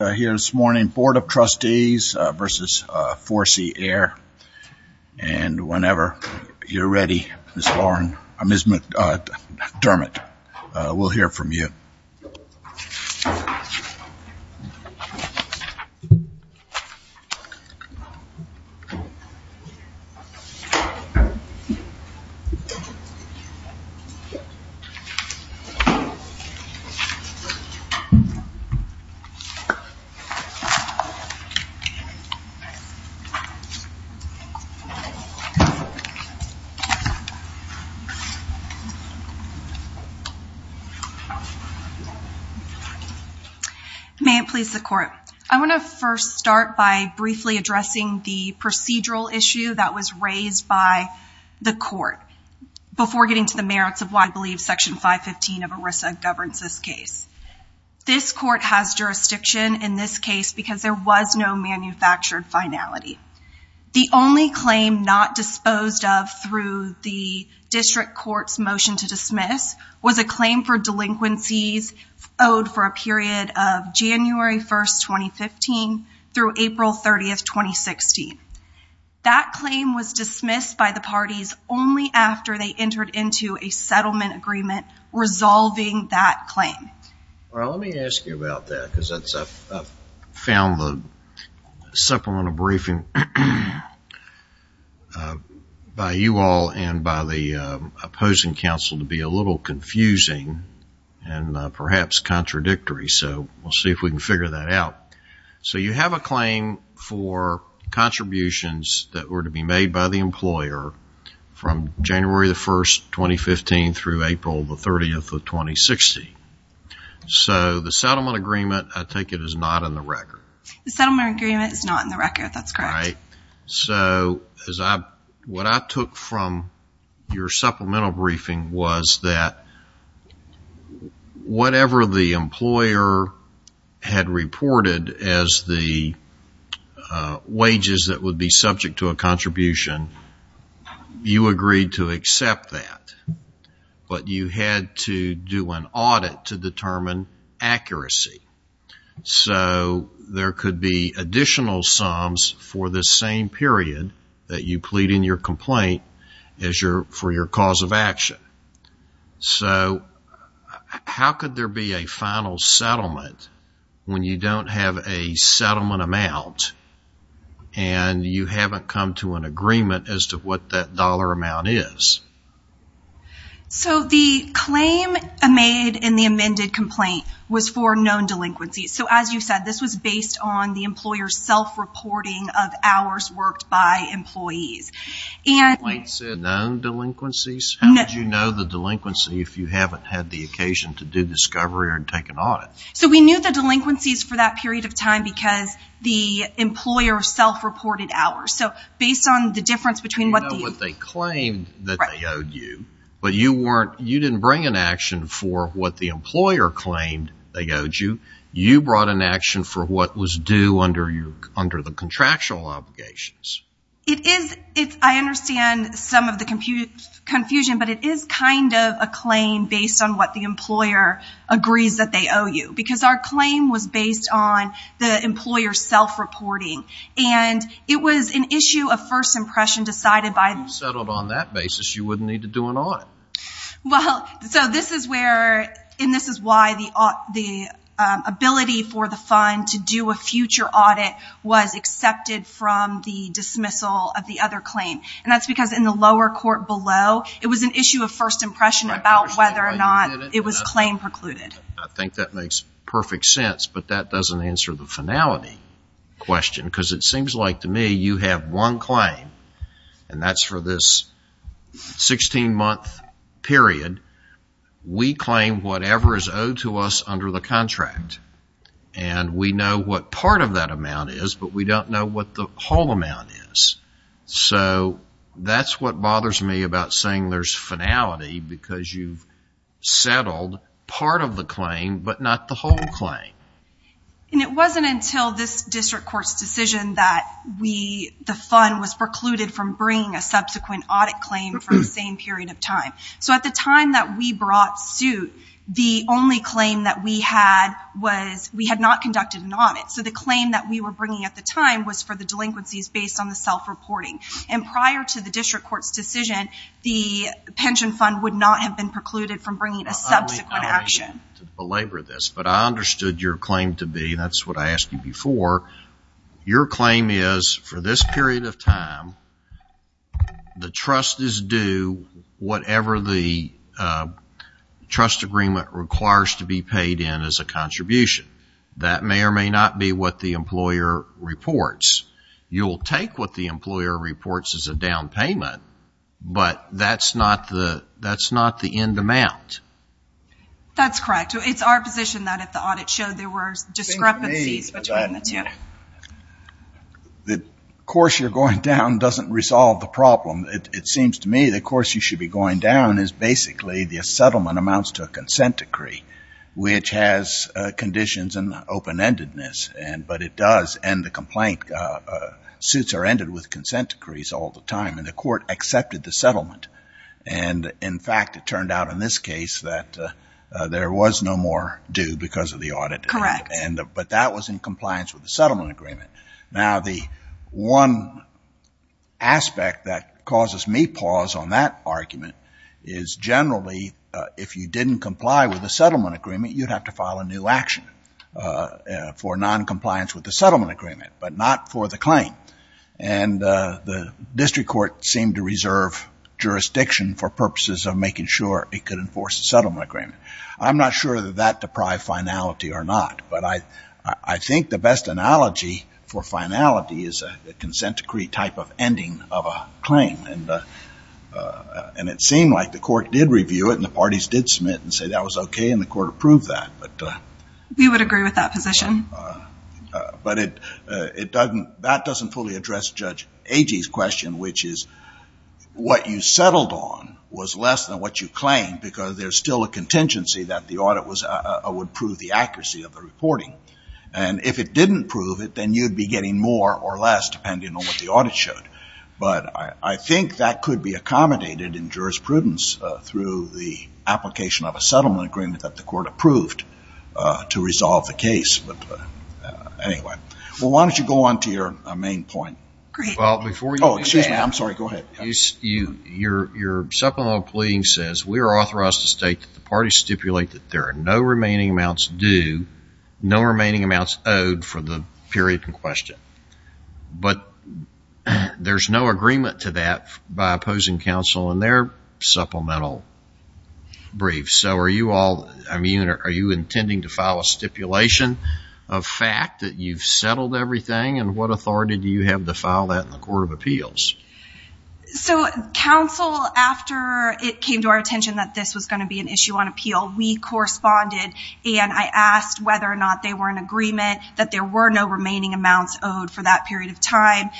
Here this morning, Board of Trustees v. Four-C-Aire, and whenever you're ready, Ms. McDermott will hear from you. May it please the Court. I want to first start by briefly addressing the procedural issue that was raised by the Court before getting to the merits of why I believe Section 515 of ERISA governs this case. This Court has jurisdiction in this case because there was no manufactured finality. The only claim not disposed of through the District Court's motion to dismiss was a claim for delinquencies owed for a period of January 1st, 2015 through April 30th, 2016. That claim was dismissed by the parties only after they entered into a settlement agreement resolving that claim. Let me ask you about that because I've found the supplemental briefing by you all and by the opposing counsel to be a little confusing and perhaps contradictory, so we'll see if we can figure that out. You have a claim for contributions that were to be made by the employer from January 1st, 2015 through April 30th, 2016. The settlement agreement, I take it, is not in the record. The settlement agreement is not in the record. That's correct. What I took from your supplemental briefing was that whatever the employer had reported as the wages that would be subject to a contribution, you agreed to accept that, but you had to do an audit to determine accuracy. There could be additional sums for the same period that you plead in your complaint for your cause of action. How could there be a final settlement when you don't have a settlement amount and you haven't come to an agreement as to what that dollar amount is? The claim made in the amended complaint was for known delinquencies. As you said, this was based on the employer's self-reporting of hours worked by employees. The complaint said known delinquencies? How would you know the delinquency if you haven't had the occasion to do discovery or take an audit? We knew the delinquencies for that period of time because the employer self-reported hours. You know what they claimed that they owed you, but you didn't bring an action for what the employer claimed they owed you. You brought an action for what was due under the contractual obligations. I understand some of the confusion, but it is kind of a claim based on what the employer agrees that they owe you because our claim was based on the employer self-reporting. It was an issue of first impression decided by... If you settled on that basis, you wouldn't need to do an audit. This is why the ability for the fund to do a future audit was accepted from the dismissal of the other claim. That's because in the lower court below, it was an issue of first impression about whether or not it was claim precluded. I think that makes perfect sense, but that doesn't answer the finality question because it seems like to me you have one claim, and that's for this 16-month period. We claim whatever is owed to us under the contract, and we know what part of that amount is, but we don't know what the whole amount is. That's what bothers me about saying there's finality because you've settled part of the claim, but not the whole claim. It wasn't until this district court's decision that the fund was precluded from bringing a subsequent audit claim for the same period of time. At the time that we brought suit, the only claim that we had was we had not conducted an audit. The claim that we were bringing at the time was for the delinquencies based on the self-reporting. Prior to the district court's decision, the pension fund would not have been precluded from bringing a subsequent action. I believe I'm going to belabor this, but I understood your claim to be, and that's what I asked you before. Your claim is for this period of time, the trust is due whatever the trust agreement requires to be paid in as a contribution. That may or may not be what the employer reports. You'll take what the employer reports as a down payment, but that's not the end amount. That's correct. It's our position that if the audit showed there were discrepancies between the two. The course you're going down doesn't resolve the problem. It seems to me the course you should be going down is basically the settlement amounts to a consent decree, which has conditions and open-endedness, but it does end the complaint. Suits are ended with consent decrees all the time, and the court accepted the settlement. In fact, it turned out in this case that there was no more due because of the audit. Correct. But that was in compliance with the settlement agreement. Now, the one aspect that causes me pause on that argument is generally if you didn't comply with the settlement agreement, you'd have to file a new action for noncompliance with the settlement agreement, but not for the claim. And the district court seemed to reserve jurisdiction for purposes of making sure it could enforce the settlement agreement. I'm not sure that that deprived finality or not, but I think the best analogy for finality is a consent decree type of ending of a claim, and it seemed like the court did review it and the parties did submit and say that was okay and the court approved that. We would agree with that position. But that doesn't fully address Judge Agee's question, which is what you settled on was less than what you claimed because there's still a contingency that the audit would prove the accuracy of the reporting. And if it didn't prove it, then you'd be getting more or less depending on what the audit showed. But I think that could be accommodated in jurisprudence through the application of a settlement agreement that the court approved to resolve the case. But anyway, why don't you go on to your main point. Great. Oh, excuse me. I'm sorry. Go ahead. Your supplemental pleading says, we are authorized to state that the parties stipulate that there are no remaining amounts due, no remaining amounts owed for the period in question. But there's no agreement to that by opposing counsel in their supplemental brief. So are you all immune or are you intending to file a stipulation of fact that you've settled everything and what authority do you have to file that in the Court of Appeals? So counsel, after it came to our attention that this was going to be an issue on appeal, we corresponded and I asked whether or not they were in agreement that there were no remaining amounts owed for that period of time,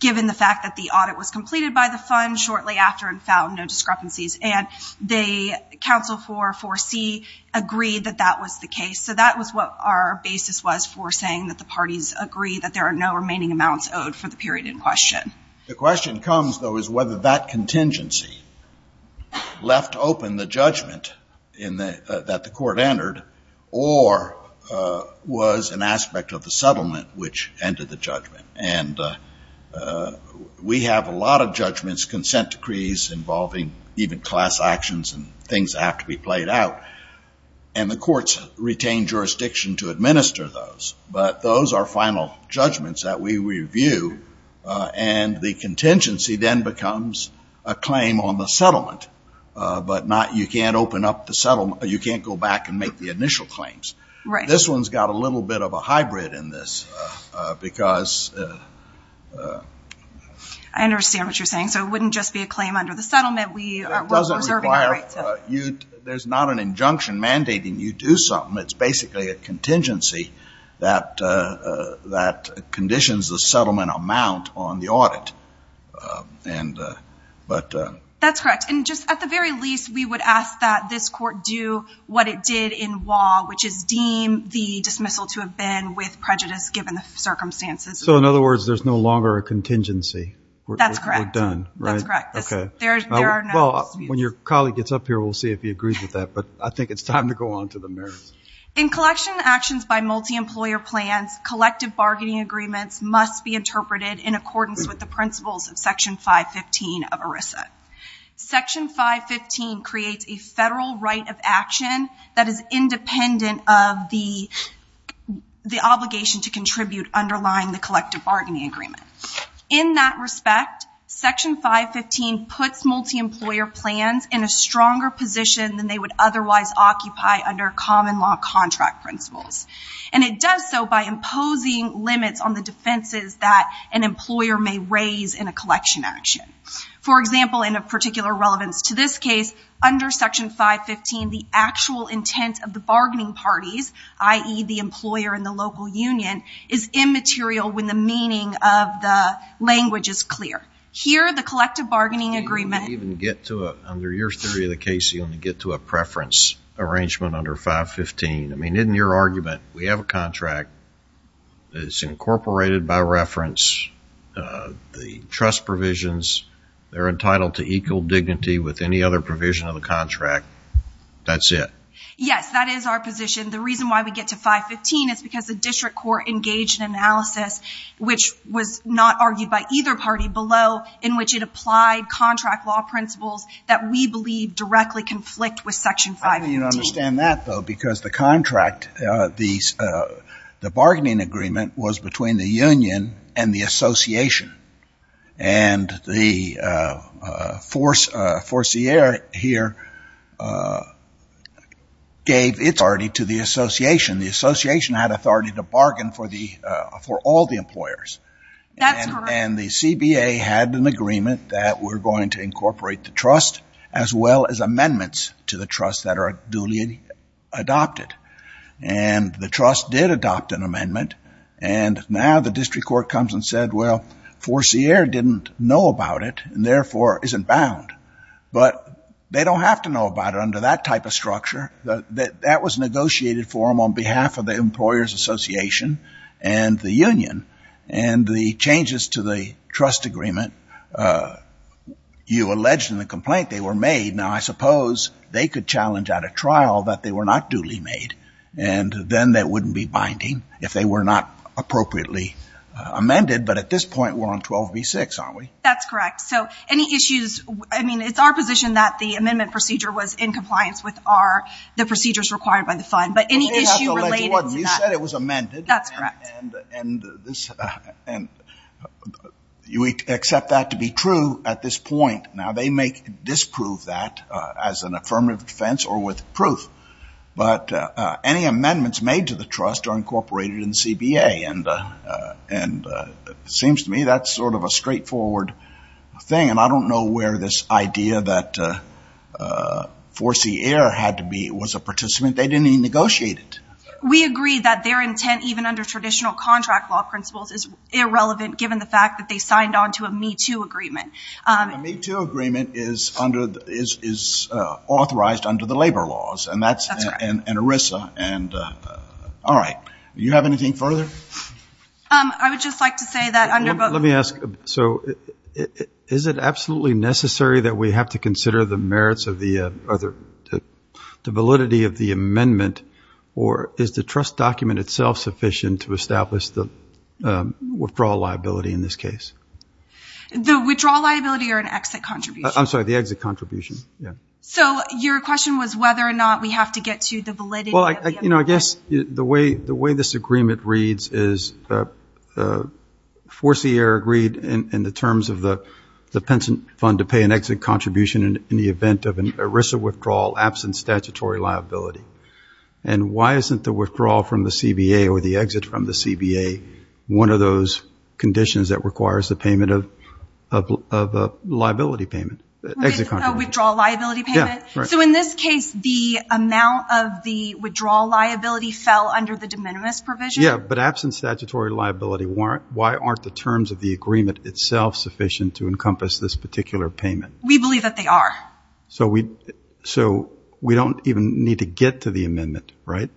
given the fact that the audit was completed by the fund shortly after and found no discrepancies. And the counsel for 4C agreed that that was the case. So that was what our basis was for saying that the parties agree that there are no remaining amounts owed for the period in question. The question comes, though, is whether that contingency left open the judgment that the court entered or was an aspect of the settlement which ended the judgment. And we have a lot of judgments, consent decrees involving even class actions and things that have to be played out, and the courts retain jurisdiction to administer those. But those are final judgments that we review, and the contingency then becomes a claim on the settlement, but you can't go back and make the initial claims. This one's got a little bit of a hybrid in this because... I understand what you're saying. There's not an injunction mandating you do something. It's basically a contingency that conditions the settlement amount on the audit. That's correct. And just at the very least, we would ask that this court do what it did in Waugh, which is deem the dismissal to have been with prejudice given the circumstances. So in other words, there's no longer a contingency. That's correct. We're done, right? That's correct. When your colleague gets up here, we'll see if he agrees with that, but I think it's time to go on to the merits. In collection actions by multi-employer plans, collective bargaining agreements must be interpreted in accordance with the principles of Section 515 of ERISA. Section 515 creates a federal right of action that is independent of the obligation to contribute underlying the collective bargaining agreement. In that respect, Section 515 puts multi-employer plans in a stronger position than they would otherwise occupy under common law contract principles. And it does so by imposing limits on the defenses that an employer may raise in a collection action. For example, in a particular relevance to this case, under Section 515 the actual intent of the bargaining parties, i.e. the employer and the local union, is immaterial when the meaning of the language is clear. Here, the collective bargaining agreement- You don't even get to it. Under your theory of the case, you only get to a preference arrangement under 515. I mean, in your argument, we have a contract. It's incorporated by reference. The trust provisions, they're entitled to equal dignity with any other provision of the contract. That's it. Yes, that is our position. The reason why we get to 515 is because the district court engaged in analysis, which was not argued by either party below, in which it applied contract law principles that we believe directly conflict with Section 515. I think you'd understand that, though, because the contract, the bargaining agreement was between the union and the association. And the forcier here gave its authority to the association. The association had authority to bargain for all the employers. That's right. And the CBA had an agreement that we're going to incorporate the trust, as well as amendments to the trust that are duly adopted. And the trust did adopt an amendment. And now the district court comes and said, well, forcier didn't know about it, and therefore isn't bound. But they don't have to know about it under that type of structure. That was negotiated for them on behalf of the employers' association and the union. And the changes to the trust agreement, you alleged in the complaint they were made. Now, I suppose they could challenge at a trial that they were not duly made, and then that wouldn't be binding if they were not appropriately amended. But at this point, we're on 12b-6, aren't we? That's correct. So any issues, I mean, it's our position that the amendment procedure was in compliance with our, the procedures required by the fund. But any issue related to that. You said it was amended. That's correct. And you accept that to be true at this point. Now, they may disprove that as an affirmative defense or with proof. But any amendments made to the trust are incorporated in CBA. And it seems to me that's sort of a straightforward thing. And I don't know where this idea that forcier had to be, was a participant. They didn't even negotiate it. We agree that their intent, even under traditional contract law principles, is irrelevant given the fact that they signed on to a Me Too agreement. A Me Too agreement is authorized under the labor laws. And that's an ERISA. All right. Do you have anything further? I would just like to say that under both. Let me ask. So is it absolutely necessary that we have to consider the merits of the validity of the amendment? Or is the trust document itself sufficient to establish the withdrawal liability in this case? The withdrawal liability or an exit contribution? I'm sorry, the exit contribution. So your question was whether or not we have to get to the validity of the amendment. Well, I guess the way this agreement reads is forcier agreed in the terms of the pension fund to pay an exit contribution in the event of an ERISA withdrawal absent statutory liability. And why isn't the withdrawal from the CBA or the exit from the CBA one of those conditions that requires the payment of a liability payment, exit contribution? A withdrawal liability payment? Yeah, right. So in this case, the amount of the withdrawal liability fell under the de minimis provision? Yeah, but absent statutory liability, why aren't the terms of the agreement itself sufficient to encompass this particular payment? We believe that they are. So we don't even need to get to the amendment, right?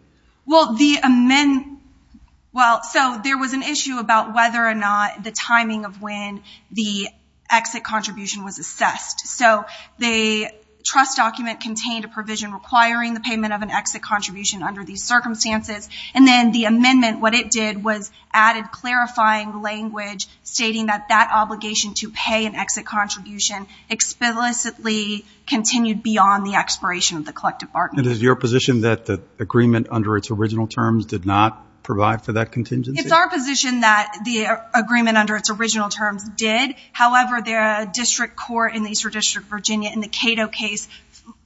Well, so there was an issue about whether or not the timing of when the exit contribution was assessed. So the trust document contained a provision requiring the payment of an exit contribution under these circumstances. And then the amendment, what it did was added clarifying language stating that that obligation to pay an exit contribution explicitly continued beyond the expiration of the collective bargaining. And is it your position that the agreement under its original terms did not provide for that contingency? It's our position that the agreement under its original terms did. However, the district court in the Eastern District of Virginia in the Cato case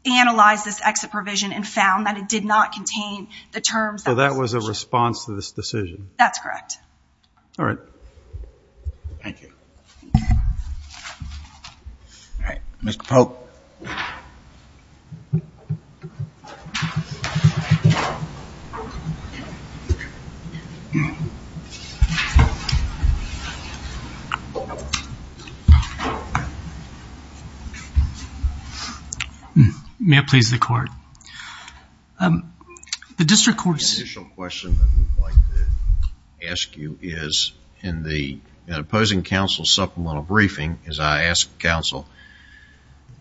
analyzed this exit provision and found that it did not contain the terms. So that was a response to this decision? That's correct. All right. Thank you. All right. Mr. Polk. May it please the Court. The district court's initial question that we'd like to ask you is, in the opposing counsel's supplemental briefing, as I asked counsel,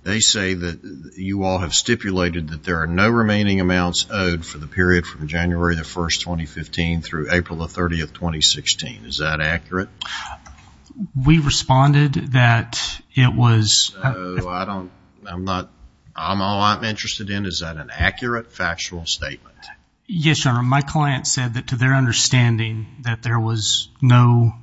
they say that you all have stipulated that there are no remaining amounts owed for the period from January 1, 2015 through April 30, 2016. Is that accurate? We responded that it was. So I don't, I'm not, all I'm interested in, is that an accurate factual statement? Yes, Your Honor. My client said that to their understanding that there was no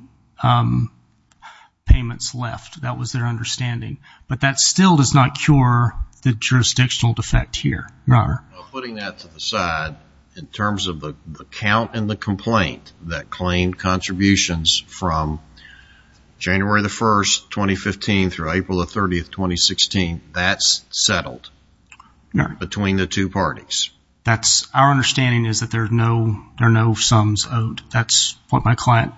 payments left. That was their understanding. But that still does not cure the jurisdictional defect here. Your Honor. Putting that to the side, in terms of the count in the complaint that claimed contributions from January 1, 2015 through April 30, 2016, that's settled between the two parties? That's, our understanding is that there are no sums owed. That's what my client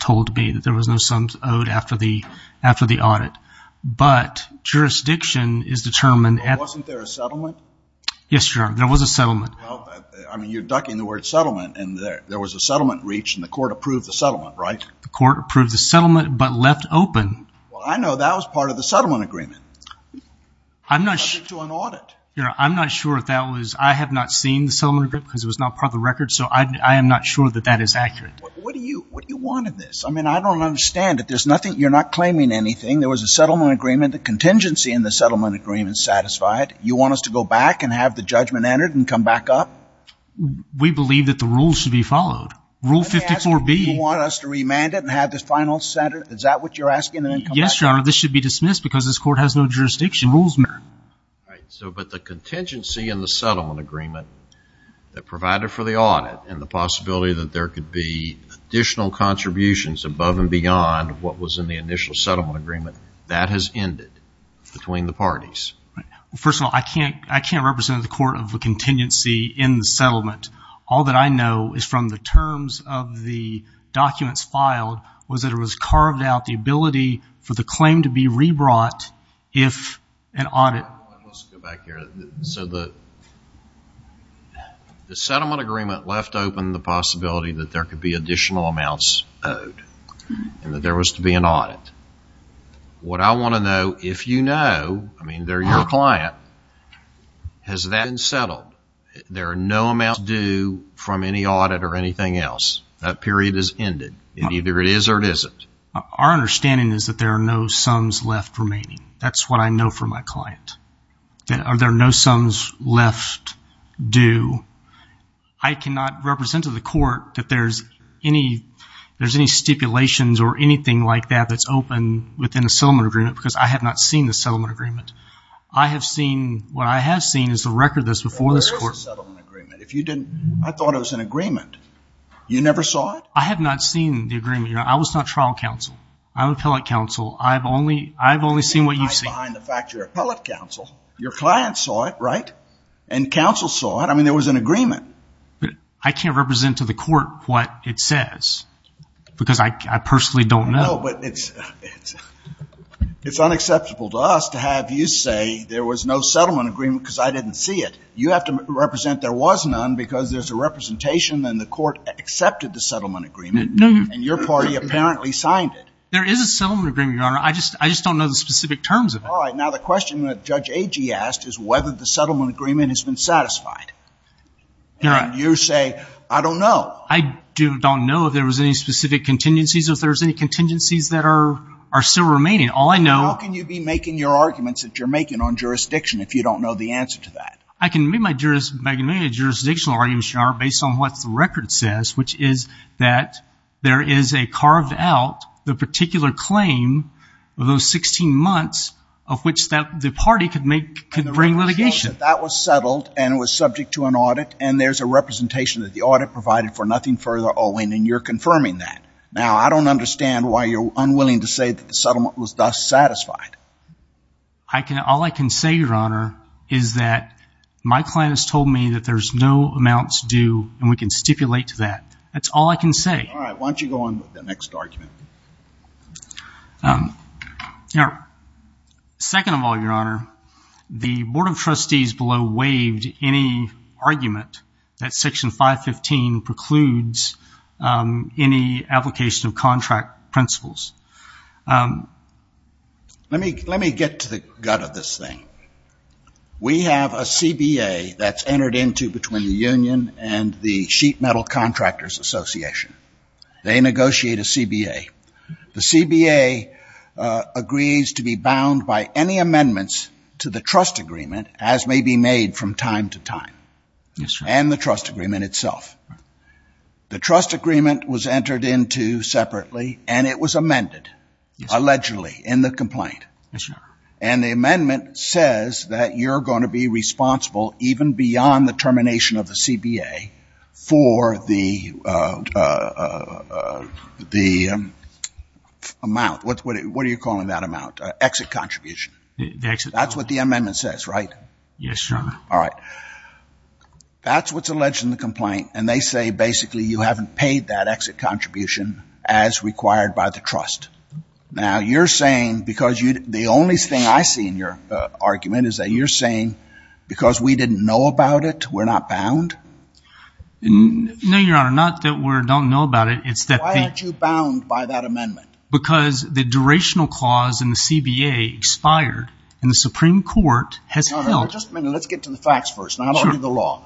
told me, that there was no sums owed after the audit. But jurisdiction is determined. Wasn't there a settlement? Yes, Your Honor. There was a settlement. Well, I mean, you're ducking the word settlement, and there was a settlement reached, and the court approved the settlement, right? The court approved the settlement but left open. Well, I know that was part of the settlement agreement. I'm not sure. It was subject to an audit. I'm not sure if that was. I have not seen the settlement agreement because it was not part of the record, so I am not sure that that is accurate. What do you want in this? I mean, I don't understand it. There's nothing. You're not claiming anything. There was a settlement agreement. The contingency in the settlement agreement is satisfied. You want us to go back and have the judgment entered and come back up? We believe that the rules should be followed. Rule 54B. You want us to remand it and have the final sentence? Is that what you're asking? Yes, Your Honor. This should be dismissed because this court has no jurisdiction. Rules matter. But the contingency in the settlement agreement that provided for the audit and the possibility that there could be additional contributions above and beyond what was in the initial settlement agreement, that has ended between the parties. First of all, I can't represent the court of a contingency in the settlement. All that I know is from the terms of the documents filed was that it was Let's go back here. So the settlement agreement left open the possibility that there could be additional amounts owed and that there was to be an audit. What I want to know, if you know, I mean they're your client, has that been settled? There are no amounts due from any audit or anything else. That period has ended. Either it is or it isn't. Our understanding is that there are no sums left remaining. That's what I know from my client. There are no sums left due. I cannot represent to the court that there's any stipulations or anything like that that's open within the settlement agreement because I have not seen the settlement agreement. I have seen, what I have seen is the record that's before this court. There is a settlement agreement. If you didn't, I thought it was an agreement. You never saw it? I have not seen the agreement. I was not trial counsel. I'm appellate counsel. I've only seen what you've seen. I find the fact you're appellate counsel. Your client saw it, right? And counsel saw it. I mean there was an agreement. I can't represent to the court what it says because I personally don't know. No, but it's unacceptable to us to have you say there was no settlement agreement because I didn't see it. You have to represent there was none because there's a representation and the court accepted the settlement agreement. And your party apparently signed it. There is a settlement agreement, Your Honor. I just don't know the specific terms of it. All right. Now the question that Judge Agee asked is whether the settlement agreement has been satisfied. And you say, I don't know. I don't know if there was any specific contingencies, if there was any contingencies that are still remaining. All I know How can you be making your arguments that you're making on jurisdiction if you don't know the answer to that? I can make a jurisdictional argument, Your Honor, based on what the record says, which is that there is a carved out, the particular claim of those 16 months of which the party could bring litigation. And the record shows that that was settled and it was subject to an audit and there's a representation that the audit provided for nothing further and you're confirming that. Now I don't understand why you're unwilling to say that the settlement was thus satisfied. All I can say, Your Honor, is that my client has told me that there's no amounts due and we can stipulate to that. That's all I can say. All right, why don't you go on to the next argument. Second of all, Your Honor, the Board of Trustees below waived any argument that Section 515 precludes any application of contract principles. Let me get to the gut of this thing. We have a CBA that's entered into between the union and the Sheet Metal Contractors Association. They negotiate a CBA. The CBA agrees to be bound by any amendments to the trust agreement, as may be made from time to time, and the trust agreement itself. The trust agreement was entered into separately and it was amended, allegedly, in the complaint. Yes, Your Honor. And the amendment says that you're going to be responsible, even beyond the termination of the CBA, for the amount. What are you calling that amount? Exit contribution. The exit amount. That's what the amendment says, right? Yes, Your Honor. All right. That's what's alleged in the complaint, and they say, basically, you haven't paid that exit contribution as required by the trust. Now, you're saying, because the only thing I see in your argument is that you're saying, because we didn't know about it, we're not bound? No, Your Honor. Not that we don't know about it. Why aren't you bound by that amendment? Because the durational clause in the CBA expired and the Supreme Court has held. All right. Just a minute. Let's get to the facts first, not only the law.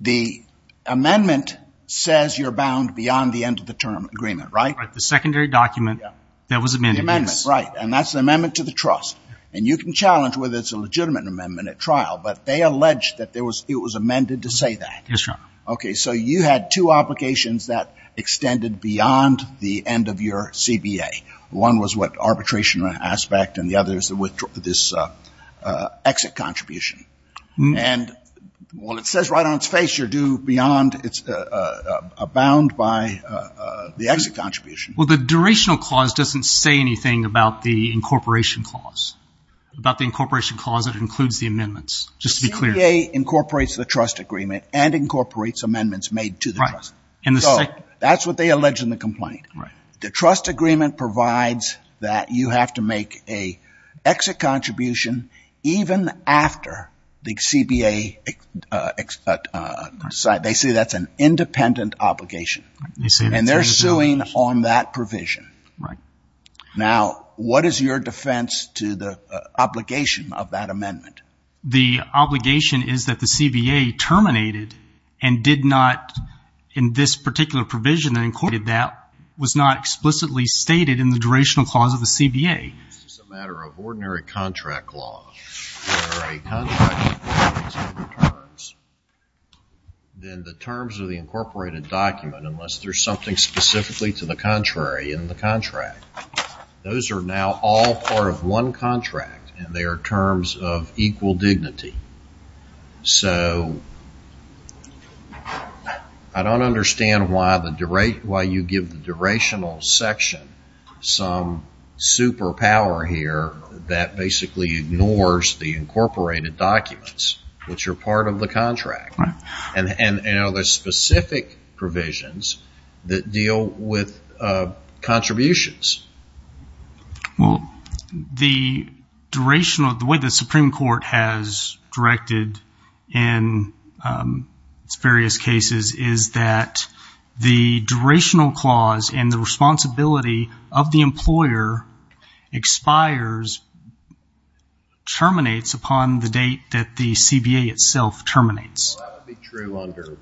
The amendment says you're bound beyond the end of the term agreement, right? The secondary document that was amended. The amendment, right. And that's the amendment to the trust. And you can challenge whether it's a legitimate amendment at trial, but they allege that it was amended to say that. Yes, Your Honor. Okay. So you had two obligations that extended beyond the end of your CBA. One was what, arbitration aspect, and the other is this exit contribution. And while it says right on its face you're due beyond, it's bound by the exit contribution. Well, the durational clause doesn't say anything about the incorporation clause. About the incorporation clause, it includes the amendments, just to be clear. The CBA incorporates the trust agreement and incorporates amendments made to the trust. Right. So that's what they allege in the complaint. Right. The trust agreement provides that you have to make an exit contribution even after the CBA expired. They say that's an independent obligation. And they're suing on that provision. Right. Now, what is your defense to the obligation of that amendment? The obligation is that the CBA terminated and did not, in this particular provision, that was not explicitly stated in the durational clause of the CBA. It's a matter of ordinary contract law. If there are contract terms, then the terms of the incorporated document, unless there's something specifically to the contrary in the contract, those are now all part of one contract, and they are terms of equal dignity. So I don't understand why you give the durational section some superpower here that basically ignores the incorporated documents, which are part of the contract. Right. And are there specific provisions that deal with contributions? Well, the durational, the way the Supreme Court has directed in its various cases, is that the durational clause and the responsibility of the employer expires, terminates upon the date that the CBA itself terminates. That would be true under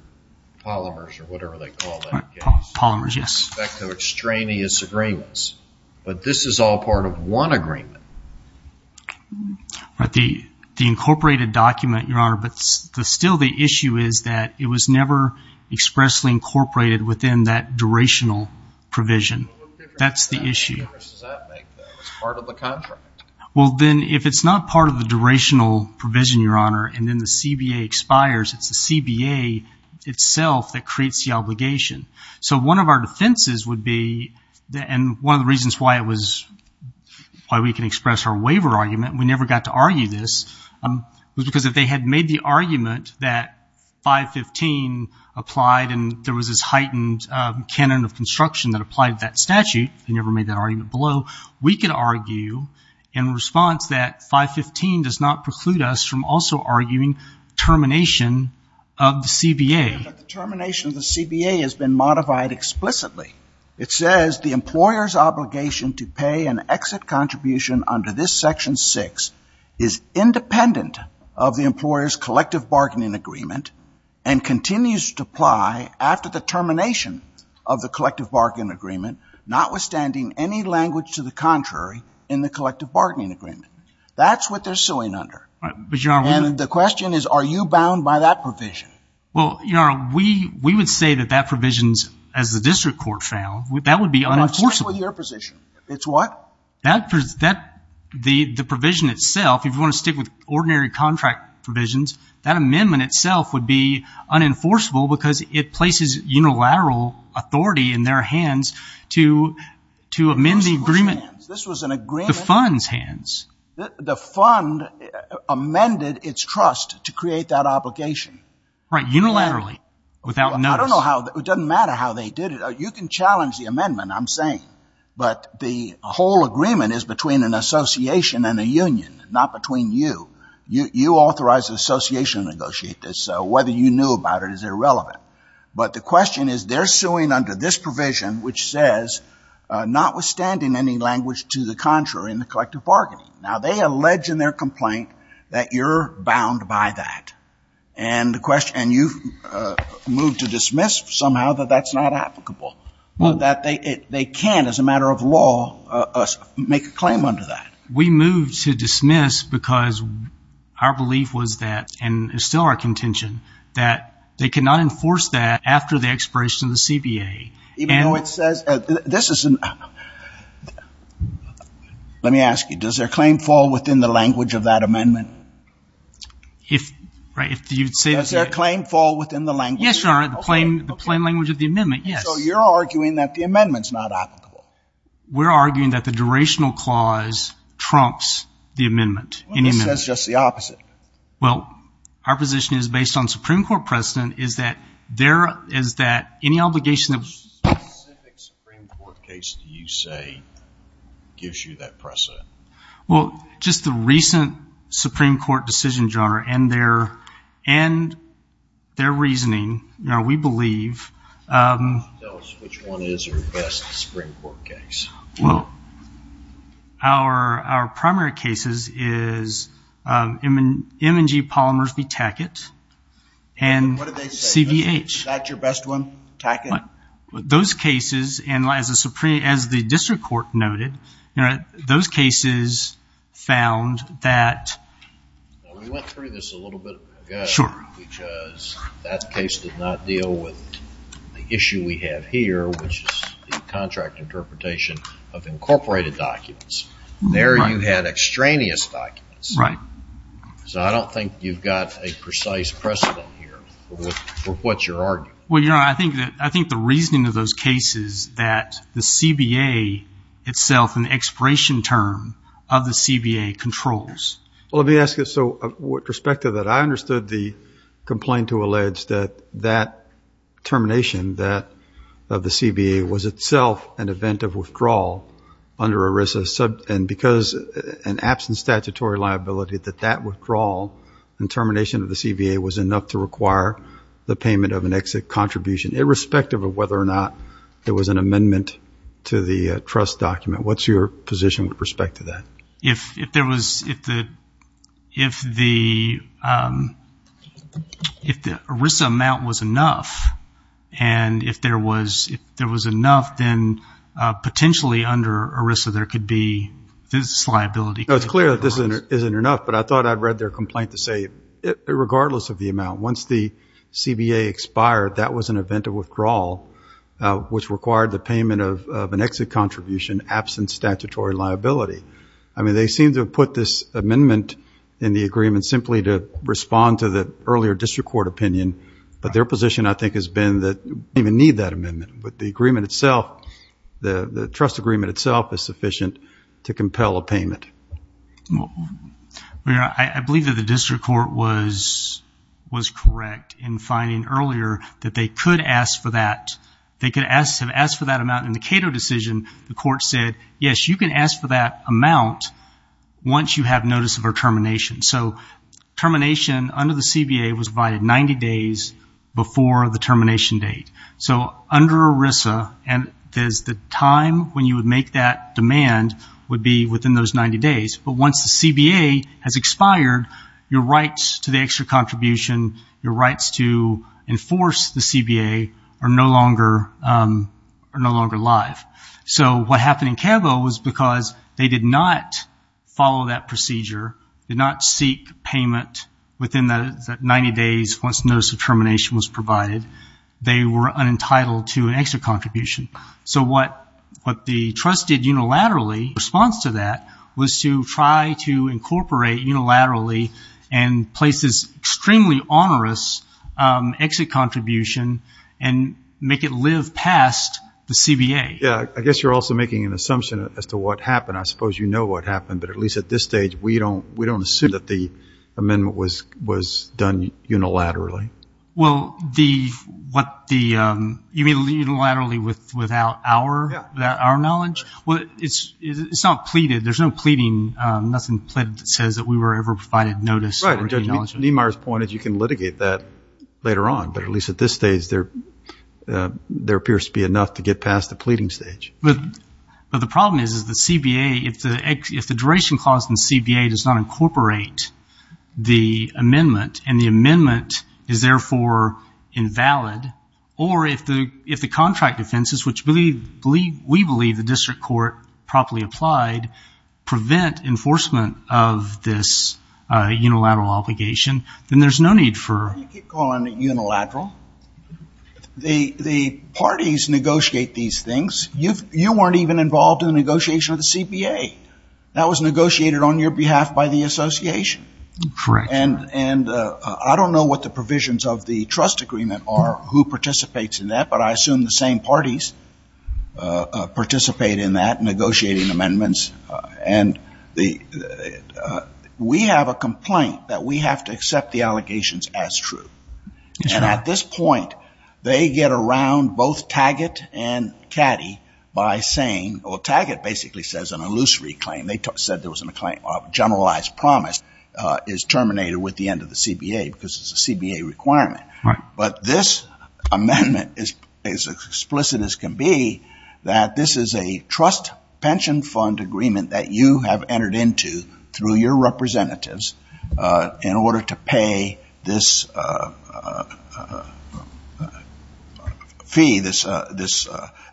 polymers or whatever they call that case. Polymers, yes. With respect to extraneous agreements. But this is all part of one agreement. The incorporated document, Your Honor, but still the issue is that it was never expressly incorporated within that durational provision. That's the issue. What difference does that make, though? It's part of the contract. Well, then, if it's not part of the durational provision, Your Honor, and then the CBA expires, it's the CBA itself that creates the obligation. So one of our defenses would be, and one of the reasons why we can express our waiver argument, we never got to argue this, was because if they had made the argument that 515 applied and there was this heightened canon of construction that applied to that statute, they never made that argument below, we could argue in response that 515 does not preclude us from also arguing termination of the CBA. But the termination of the CBA has been modified explicitly. It says the employer's obligation to pay an exit contribution under this Section 6 is independent of the employer's collective bargaining agreement and continues to apply after the termination of the collective bargaining agreement, notwithstanding any language to the contrary in the collective bargaining agreement. That's what they're suing under. And the question is, are you bound by that provision? Well, we would say that that provision, as the district court found, that would be unenforceable. It's what? The provision itself, if you want to stick with ordinary contract provisions, that amendment itself would be unenforceable because it places unilateral authority in their hands to amend the agreement. This was an agreement. The fund's hands. The fund amended its trust to create that obligation. Right. Unilaterally. Without notice. I don't know how. It doesn't matter how they did it. You can challenge the amendment, I'm saying. But the whole agreement is between an association and a union, not between you. You authorized the association to negotiate this. So whether you knew about it is irrelevant. But the question is, they're suing under this provision, which says notwithstanding any language to the contrary in the collective bargaining. Now they allege in their complaint that you're bound by that. And you've moved to dismiss somehow that that's not applicable. That they can't, as a matter of law, make a claim under that. We moved to dismiss because our belief was that, and it's still our contention, that they cannot enforce that after the expiration of the CBA. Even though it says, this isn't, let me ask you, does their claim fall within the language of that amendment? Does their claim fall within the language? Yes, Your Honor. The plain language of the amendment, yes. So you're arguing that the amendment's not applicable. We're arguing that the durational clause trumps the amendment. This says just the opposite. Well, our position is, based on Supreme Court precedent, is that any obligation of... What specific Supreme Court case do you say gives you that precedent? Well, just the recent Supreme Court decision, Your Honor, and their reasoning, we believe... Tell us which one is our best Supreme Court case. Well, our primary cases is M&G Polymers v. Tackett and CBH. What did they say? Is that your best one, Tackett? Those cases, as the district court noted, those cases found that... We went through this a little bit ago. Sure. Because that case did not deal with the issue we have here, which is the contract interpretation of incorporated documents. There you had extraneous documents. Right. So I don't think you've got a precise precedent here for what you're arguing. Well, Your Honor, I think the reasoning of those cases, that the CBA itself, an expiration term of the CBA, controls. Well, let me ask you, so with respect to that, I understood the complaint to allege that that termination, that of the CBA, was itself an event of withdrawal under ERISA, and because in absence of statutory liability, that that withdrawal and termination of the CBA was enough to require the payment of an exit contribution, irrespective of whether or not there was an amendment to the trust document. What's your position with respect to that? If the ERISA amount was enough, and if there was enough, then potentially under ERISA there could be this liability. No, it's clear that this isn't enough, but I thought I'd read their complaint to say, regardless of the amount, once the CBA expired, that was an event of withdrawal, which required the payment of an exit contribution, absent statutory liability. I mean, they seem to have put this amendment in the agreement simply to respond to the earlier district court opinion, but their position I think has been that they don't even need that amendment, but the agreement itself, the trust agreement itself, is sufficient to compel a payment. I believe that the district court was correct in finding earlier that they could ask for that. They could have asked for that amount in the Cato decision. The court said, yes, you can ask for that amount once you have notice of our termination. So termination under the CBA was provided 90 days before the termination date. So under ERISA, the time when you would make that demand would be within those 90 days. But once the CBA has expired, your rights to the exit contribution, your rights to enforce the CBA are no longer alive. So what happened in CAVO was because they did not follow that procedure, did not seek payment within that 90 days once notice of termination was So what the trust did unilaterally in response to that was to try to incorporate unilaterally and place this extremely onerous exit contribution and make it live past the CBA. Yeah, I guess you're also making an assumption as to what happened. I suppose you know what happened, but at least at this stage, we don't assume that the amendment was done unilaterally. Well, you mean unilaterally without our knowledge? Yeah. Well, it's not pleaded. There's no pleading, nothing pleaded that says that we were ever provided notice. Right. And Judge Niemeyer's point is you can litigate that later on, but at least at this stage there appears to be enough to get past the pleading stage. But the problem is, is the CBA, if the duration clause in the CBA does not incorporate the amendment and the amendment is therefore invalid, or if the contract offenses, which we believe the district court properly applied, prevent enforcement of this unilateral obligation, then there's no need for... You keep calling it unilateral. The parties negotiate these things. You weren't even involved in the negotiation of the CBA. That was negotiated on your behalf by the association. Correct. And I don't know what the provisions of the trust agreement are, who participates in that, but I assume the same parties participate in that, negotiating amendments. And we have a complaint that we have to accept the allegations as true. And at this point, they get around both Taggart and Caddy by saying, well, Taggart basically says an illusory claim. They said there was a generalized promise is terminated with the end of the CBA because it's a CBA requirement. But this amendment is as explicit as can be, that this is a trust pension fund agreement that you have entered into through your representatives in order to pay this fee, this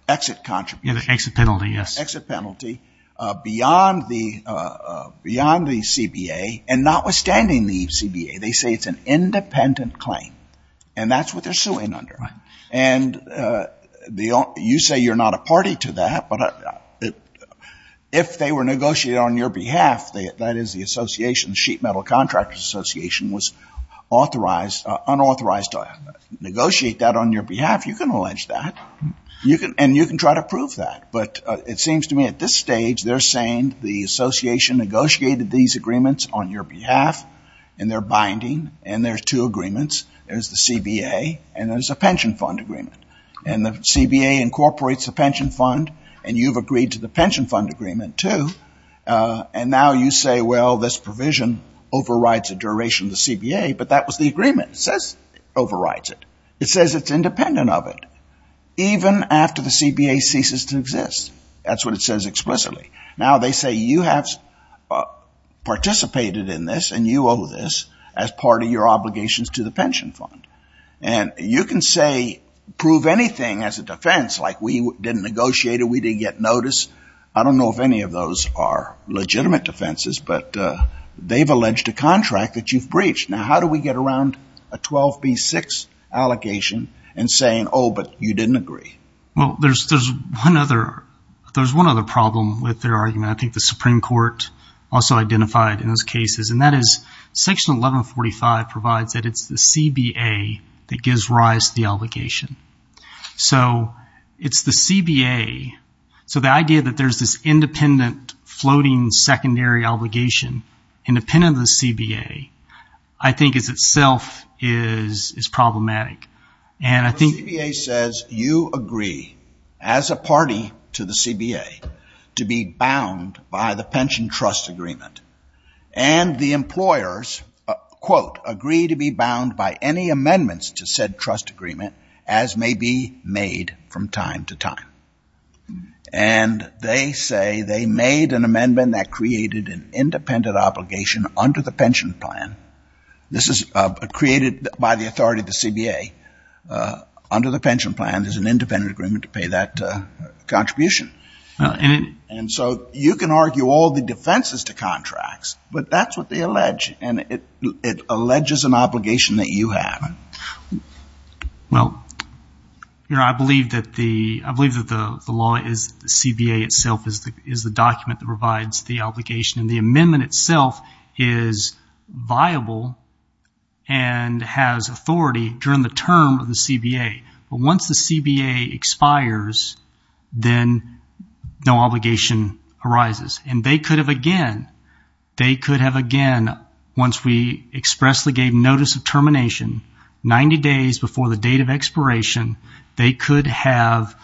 exit contribution. Exit penalty, yes. Beyond the CBA, and notwithstanding the CBA, they say it's an independent claim, and that's what they're suing under. And you say you're not a party to that, but if they were negotiating on your behalf, that is the association, the Sheet Metal Contractors Association, was unauthorized to negotiate that on your behalf, you can allege that. And you can try to prove that. But it seems to me at this stage, they're saying the association negotiated these agreements on your behalf, and they're binding, and there's two agreements. There's the CBA, and there's a pension fund agreement. And the CBA incorporates the pension fund, and you've agreed to the pension fund agreement, too. And now you say, well, this provision overrides the duration of the CBA, but that was the agreement. It says it overrides it. It says it's independent of it, even after the CBA ceases to exist. That's what it says explicitly. Now, they say you have participated in this, and you owe this as part of your obligations to the pension fund. And you can say, prove anything as a defense, like we didn't negotiate it, we didn't get notice. I don't know if any of those are legitimate defenses, but they've alleged a contract that you've breached. Now, how do we get around a 12B6 allegation and saying, oh, but you didn't agree? Well, there's one other problem with their argument. I think the Supreme Court also identified in those cases, and that is Section 1145 provides that it's the CBA that gives rise to the obligation. So it's the CBA. So the idea that there's this independent floating secondary obligation, independent of the CBA, I think is itself is problematic. The CBA says you agree, as a party to the CBA, to be bound by the pension trust agreement. And the employers, quote, agree to be bound by any amendments to said trust agreement, as may be made from time to time. And they say they made an amendment that created an independent obligation under the pension plan. This is created by the authority of the CBA. Under the pension plan, there's an independent agreement to pay that contribution. And so you can argue all the defenses to contracts, but that's what they allege. And it alleges an obligation that you have. Well, I believe that the law is the CBA itself is the document that provides the obligation. And the amendment itself is viable and has authority during the term of the CBA. But once the CBA expires, then no obligation arises. And they could have, again, they could have, again, once we expressly gave notice of termination 90 days before the date of expiration, they could have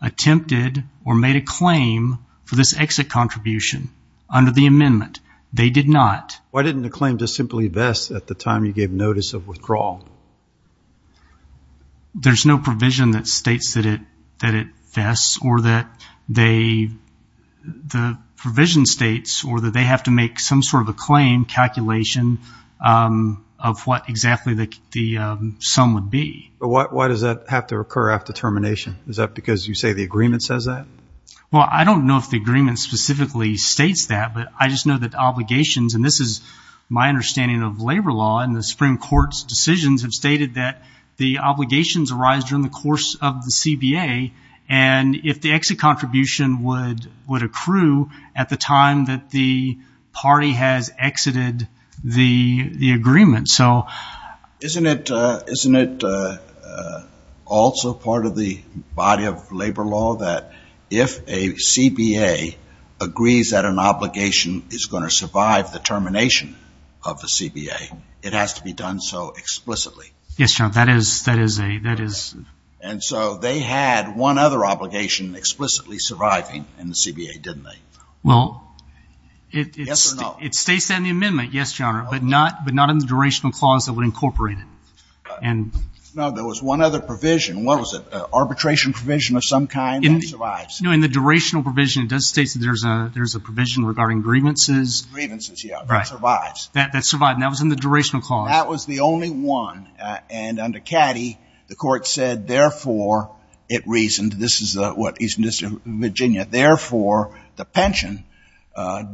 attempted or made a claim for this exit contribution. Under the amendment, they did not. Why didn't the claim just simply vest at the time you gave notice of withdrawal? There's no provision that states that it vests or that they, the provision states, or that they have to make some sort of a claim calculation of what exactly the sum would be. But why does that have to occur after termination? Is that because you say the agreement says that? Well, I don't know if the agreement specifically states that. But I just know that obligations, and this is my understanding of labor law, and the Supreme Court's decisions have stated that the obligations arise during the course of the CBA. And if the exit contribution would accrue at the time that the party has exited the agreement. Isn't it also part of the body of labor law that if a CBA agrees that an obligation is going to survive the termination of the CBA, it has to be done so explicitly? Yes, Your Honor, that is. And so they had one other obligation explicitly surviving in the CBA, didn't they? Well, it states that in the amendment, yes, Your Honor, but not in the durational clause that would incorporate it. No, there was one other provision. What was it? Arbitration provision of some kind that survives. No, in the durational provision, it does state that there's a provision regarding grievances. Grievances, yeah, that survives. That survives, and that was in the durational clause. That was the only one. And under Caddy, the Court said, therefore, it reasoned. This is what Eastern District of Virginia. Therefore, the pension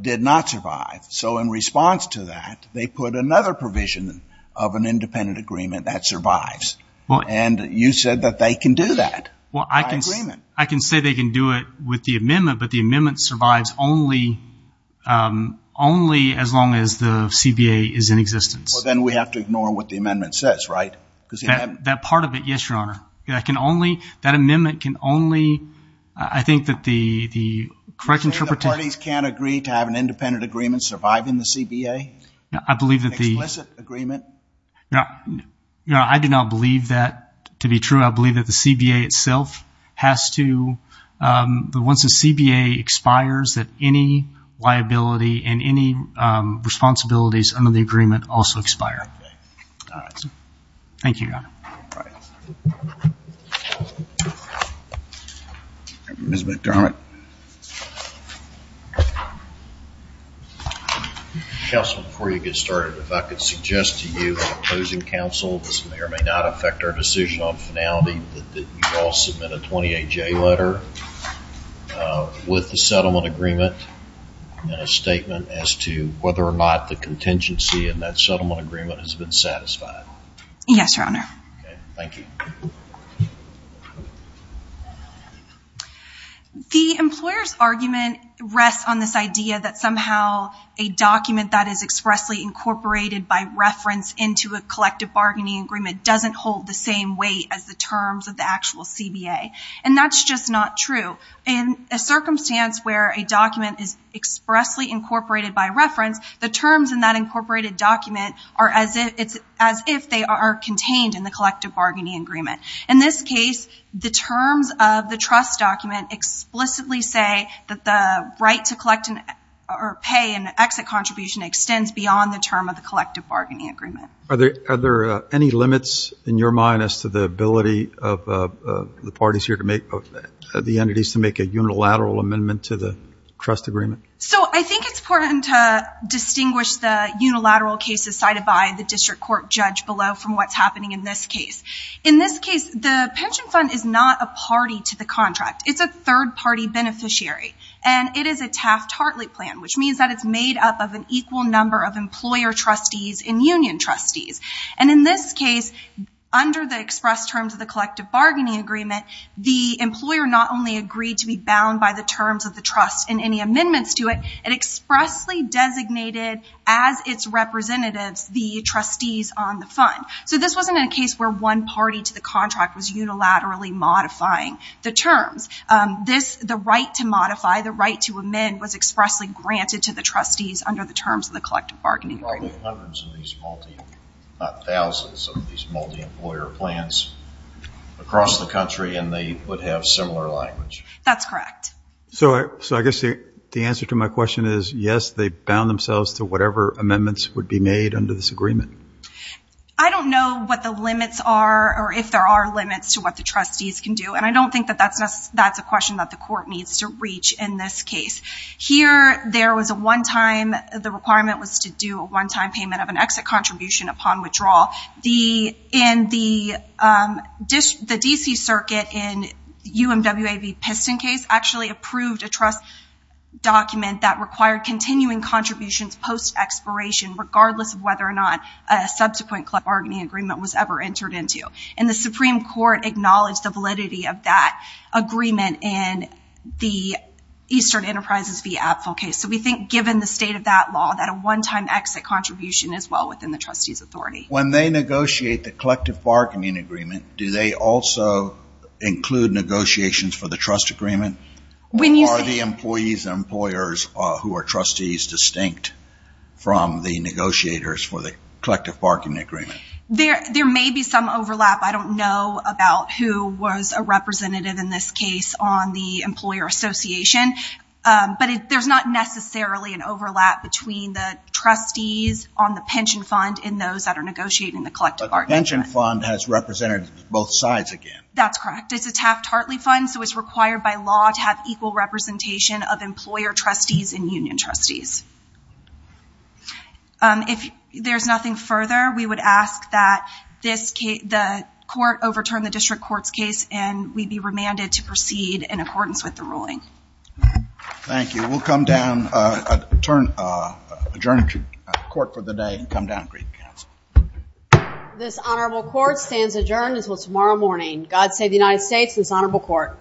did not survive. So in response to that, they put another provision of an independent agreement that survives. And you said that they can do that. Well, I can say they can do it with the amendment, but the amendment survives only as long as the CBA is in existence. Well, then we have to ignore what the amendment says, right? That part of it, yes, Your Honor. That amendment can only, I think that the correct interpretation. The parties can't agree to have an independent agreement surviving the CBA? I believe that the. Explicit agreement? I do not believe that to be true. I believe that the CBA itself has to, once the CBA expires, that any liability and any responsibilities under the agreement also expire. Thank you, Your Honor. All right. Ms. McDermott. Counsel, before you get started, if I could suggest to you in opposing counsel, this may or may not affect our decision on finality, that you all submit a 28-J letter with the settlement agreement and a statement as to whether or not the contingency in that settlement agreement has been satisfied. Yes, Your Honor. Thank you. The employer's argument rests on this idea that somehow a document that is expressly incorporated by reference into a collective bargaining agreement doesn't hold the same weight as the terms of the actual CBA. And that's just not true. In a circumstance where a document is expressly incorporated by reference, the terms in that incorporated document are as if they are contained in the collective bargaining agreement. In this case, the terms of the trust document explicitly say that the right to collect or pay an exit contribution extends beyond the term of the collective bargaining agreement. Are there any limits in your mind as to the ability of the parties here to make, the entities to make a unilateral amendment to the trust agreement? So I think it's important to distinguish the unilateral cases cited by the district court judge below from what's happening in this case. In this case, the pension fund is not a party to the contract. It's a third-party beneficiary, and it is a Taft-Hartley plan, which means that it's made up of an equal number of employer trustees and union trustees. And in this case, under the express terms of the collective bargaining agreement, the employer not only agreed to be bound by the terms of the trust and any amendments to it, it expressly designated as its representatives the trustees on the fund. So this wasn't a case where one party to the contract was unilaterally modifying the terms. The right to modify, the right to amend was expressly granted to the trustees under the terms of the collective bargaining agreement. There are probably hundreds of these, not thousands of these, multi-employer plans across the country, and they would have similar language. That's correct. So I guess the answer to my question is yes, they bound themselves to whatever amendments would be made under this agreement. I don't know what the limits are or if there are limits to what the trustees can do, and I don't think that that's a question that the court needs to reach in this case. Here, there was a one-time, the requirement was to do a one-time payment of an exit contribution upon withdrawal. And the D.C. Circuit in UMWA v. Piston case actually approved a trust document that required continuing contributions post-expiration, regardless of whether or not a subsequent collective bargaining agreement was ever entered into. And the Supreme Court acknowledged the validity of that agreement in the Eastern Enterprises v. Apfel case. So we think given the state of that law, that a one-time exit contribution is well within the trustee's authority. When they negotiate the collective bargaining agreement, do they also include negotiations for the trust agreement? When you say— Or are the employees and employers who are trustees distinct from the negotiators for the collective bargaining agreement? There may be some overlap. I don't know about who was a representative in this case on the employer association. But there's not necessarily an overlap between the trustees on the pension fund and those that are negotiating the collective bargaining agreement. But the pension fund has representatives on both sides again. That's correct. It's a Taft-Hartley fund, so it's required by law to have equal representation of employer trustees and union trustees. If there's nothing further, we would ask that the court overturn the district court's case and we'd be remanded to proceed in accordance with the ruling. Thank you. We'll come down, adjourn the court for the day and come down and greet the council. This honorable court stands adjourned until tomorrow morning. God save the United States and this honorable court.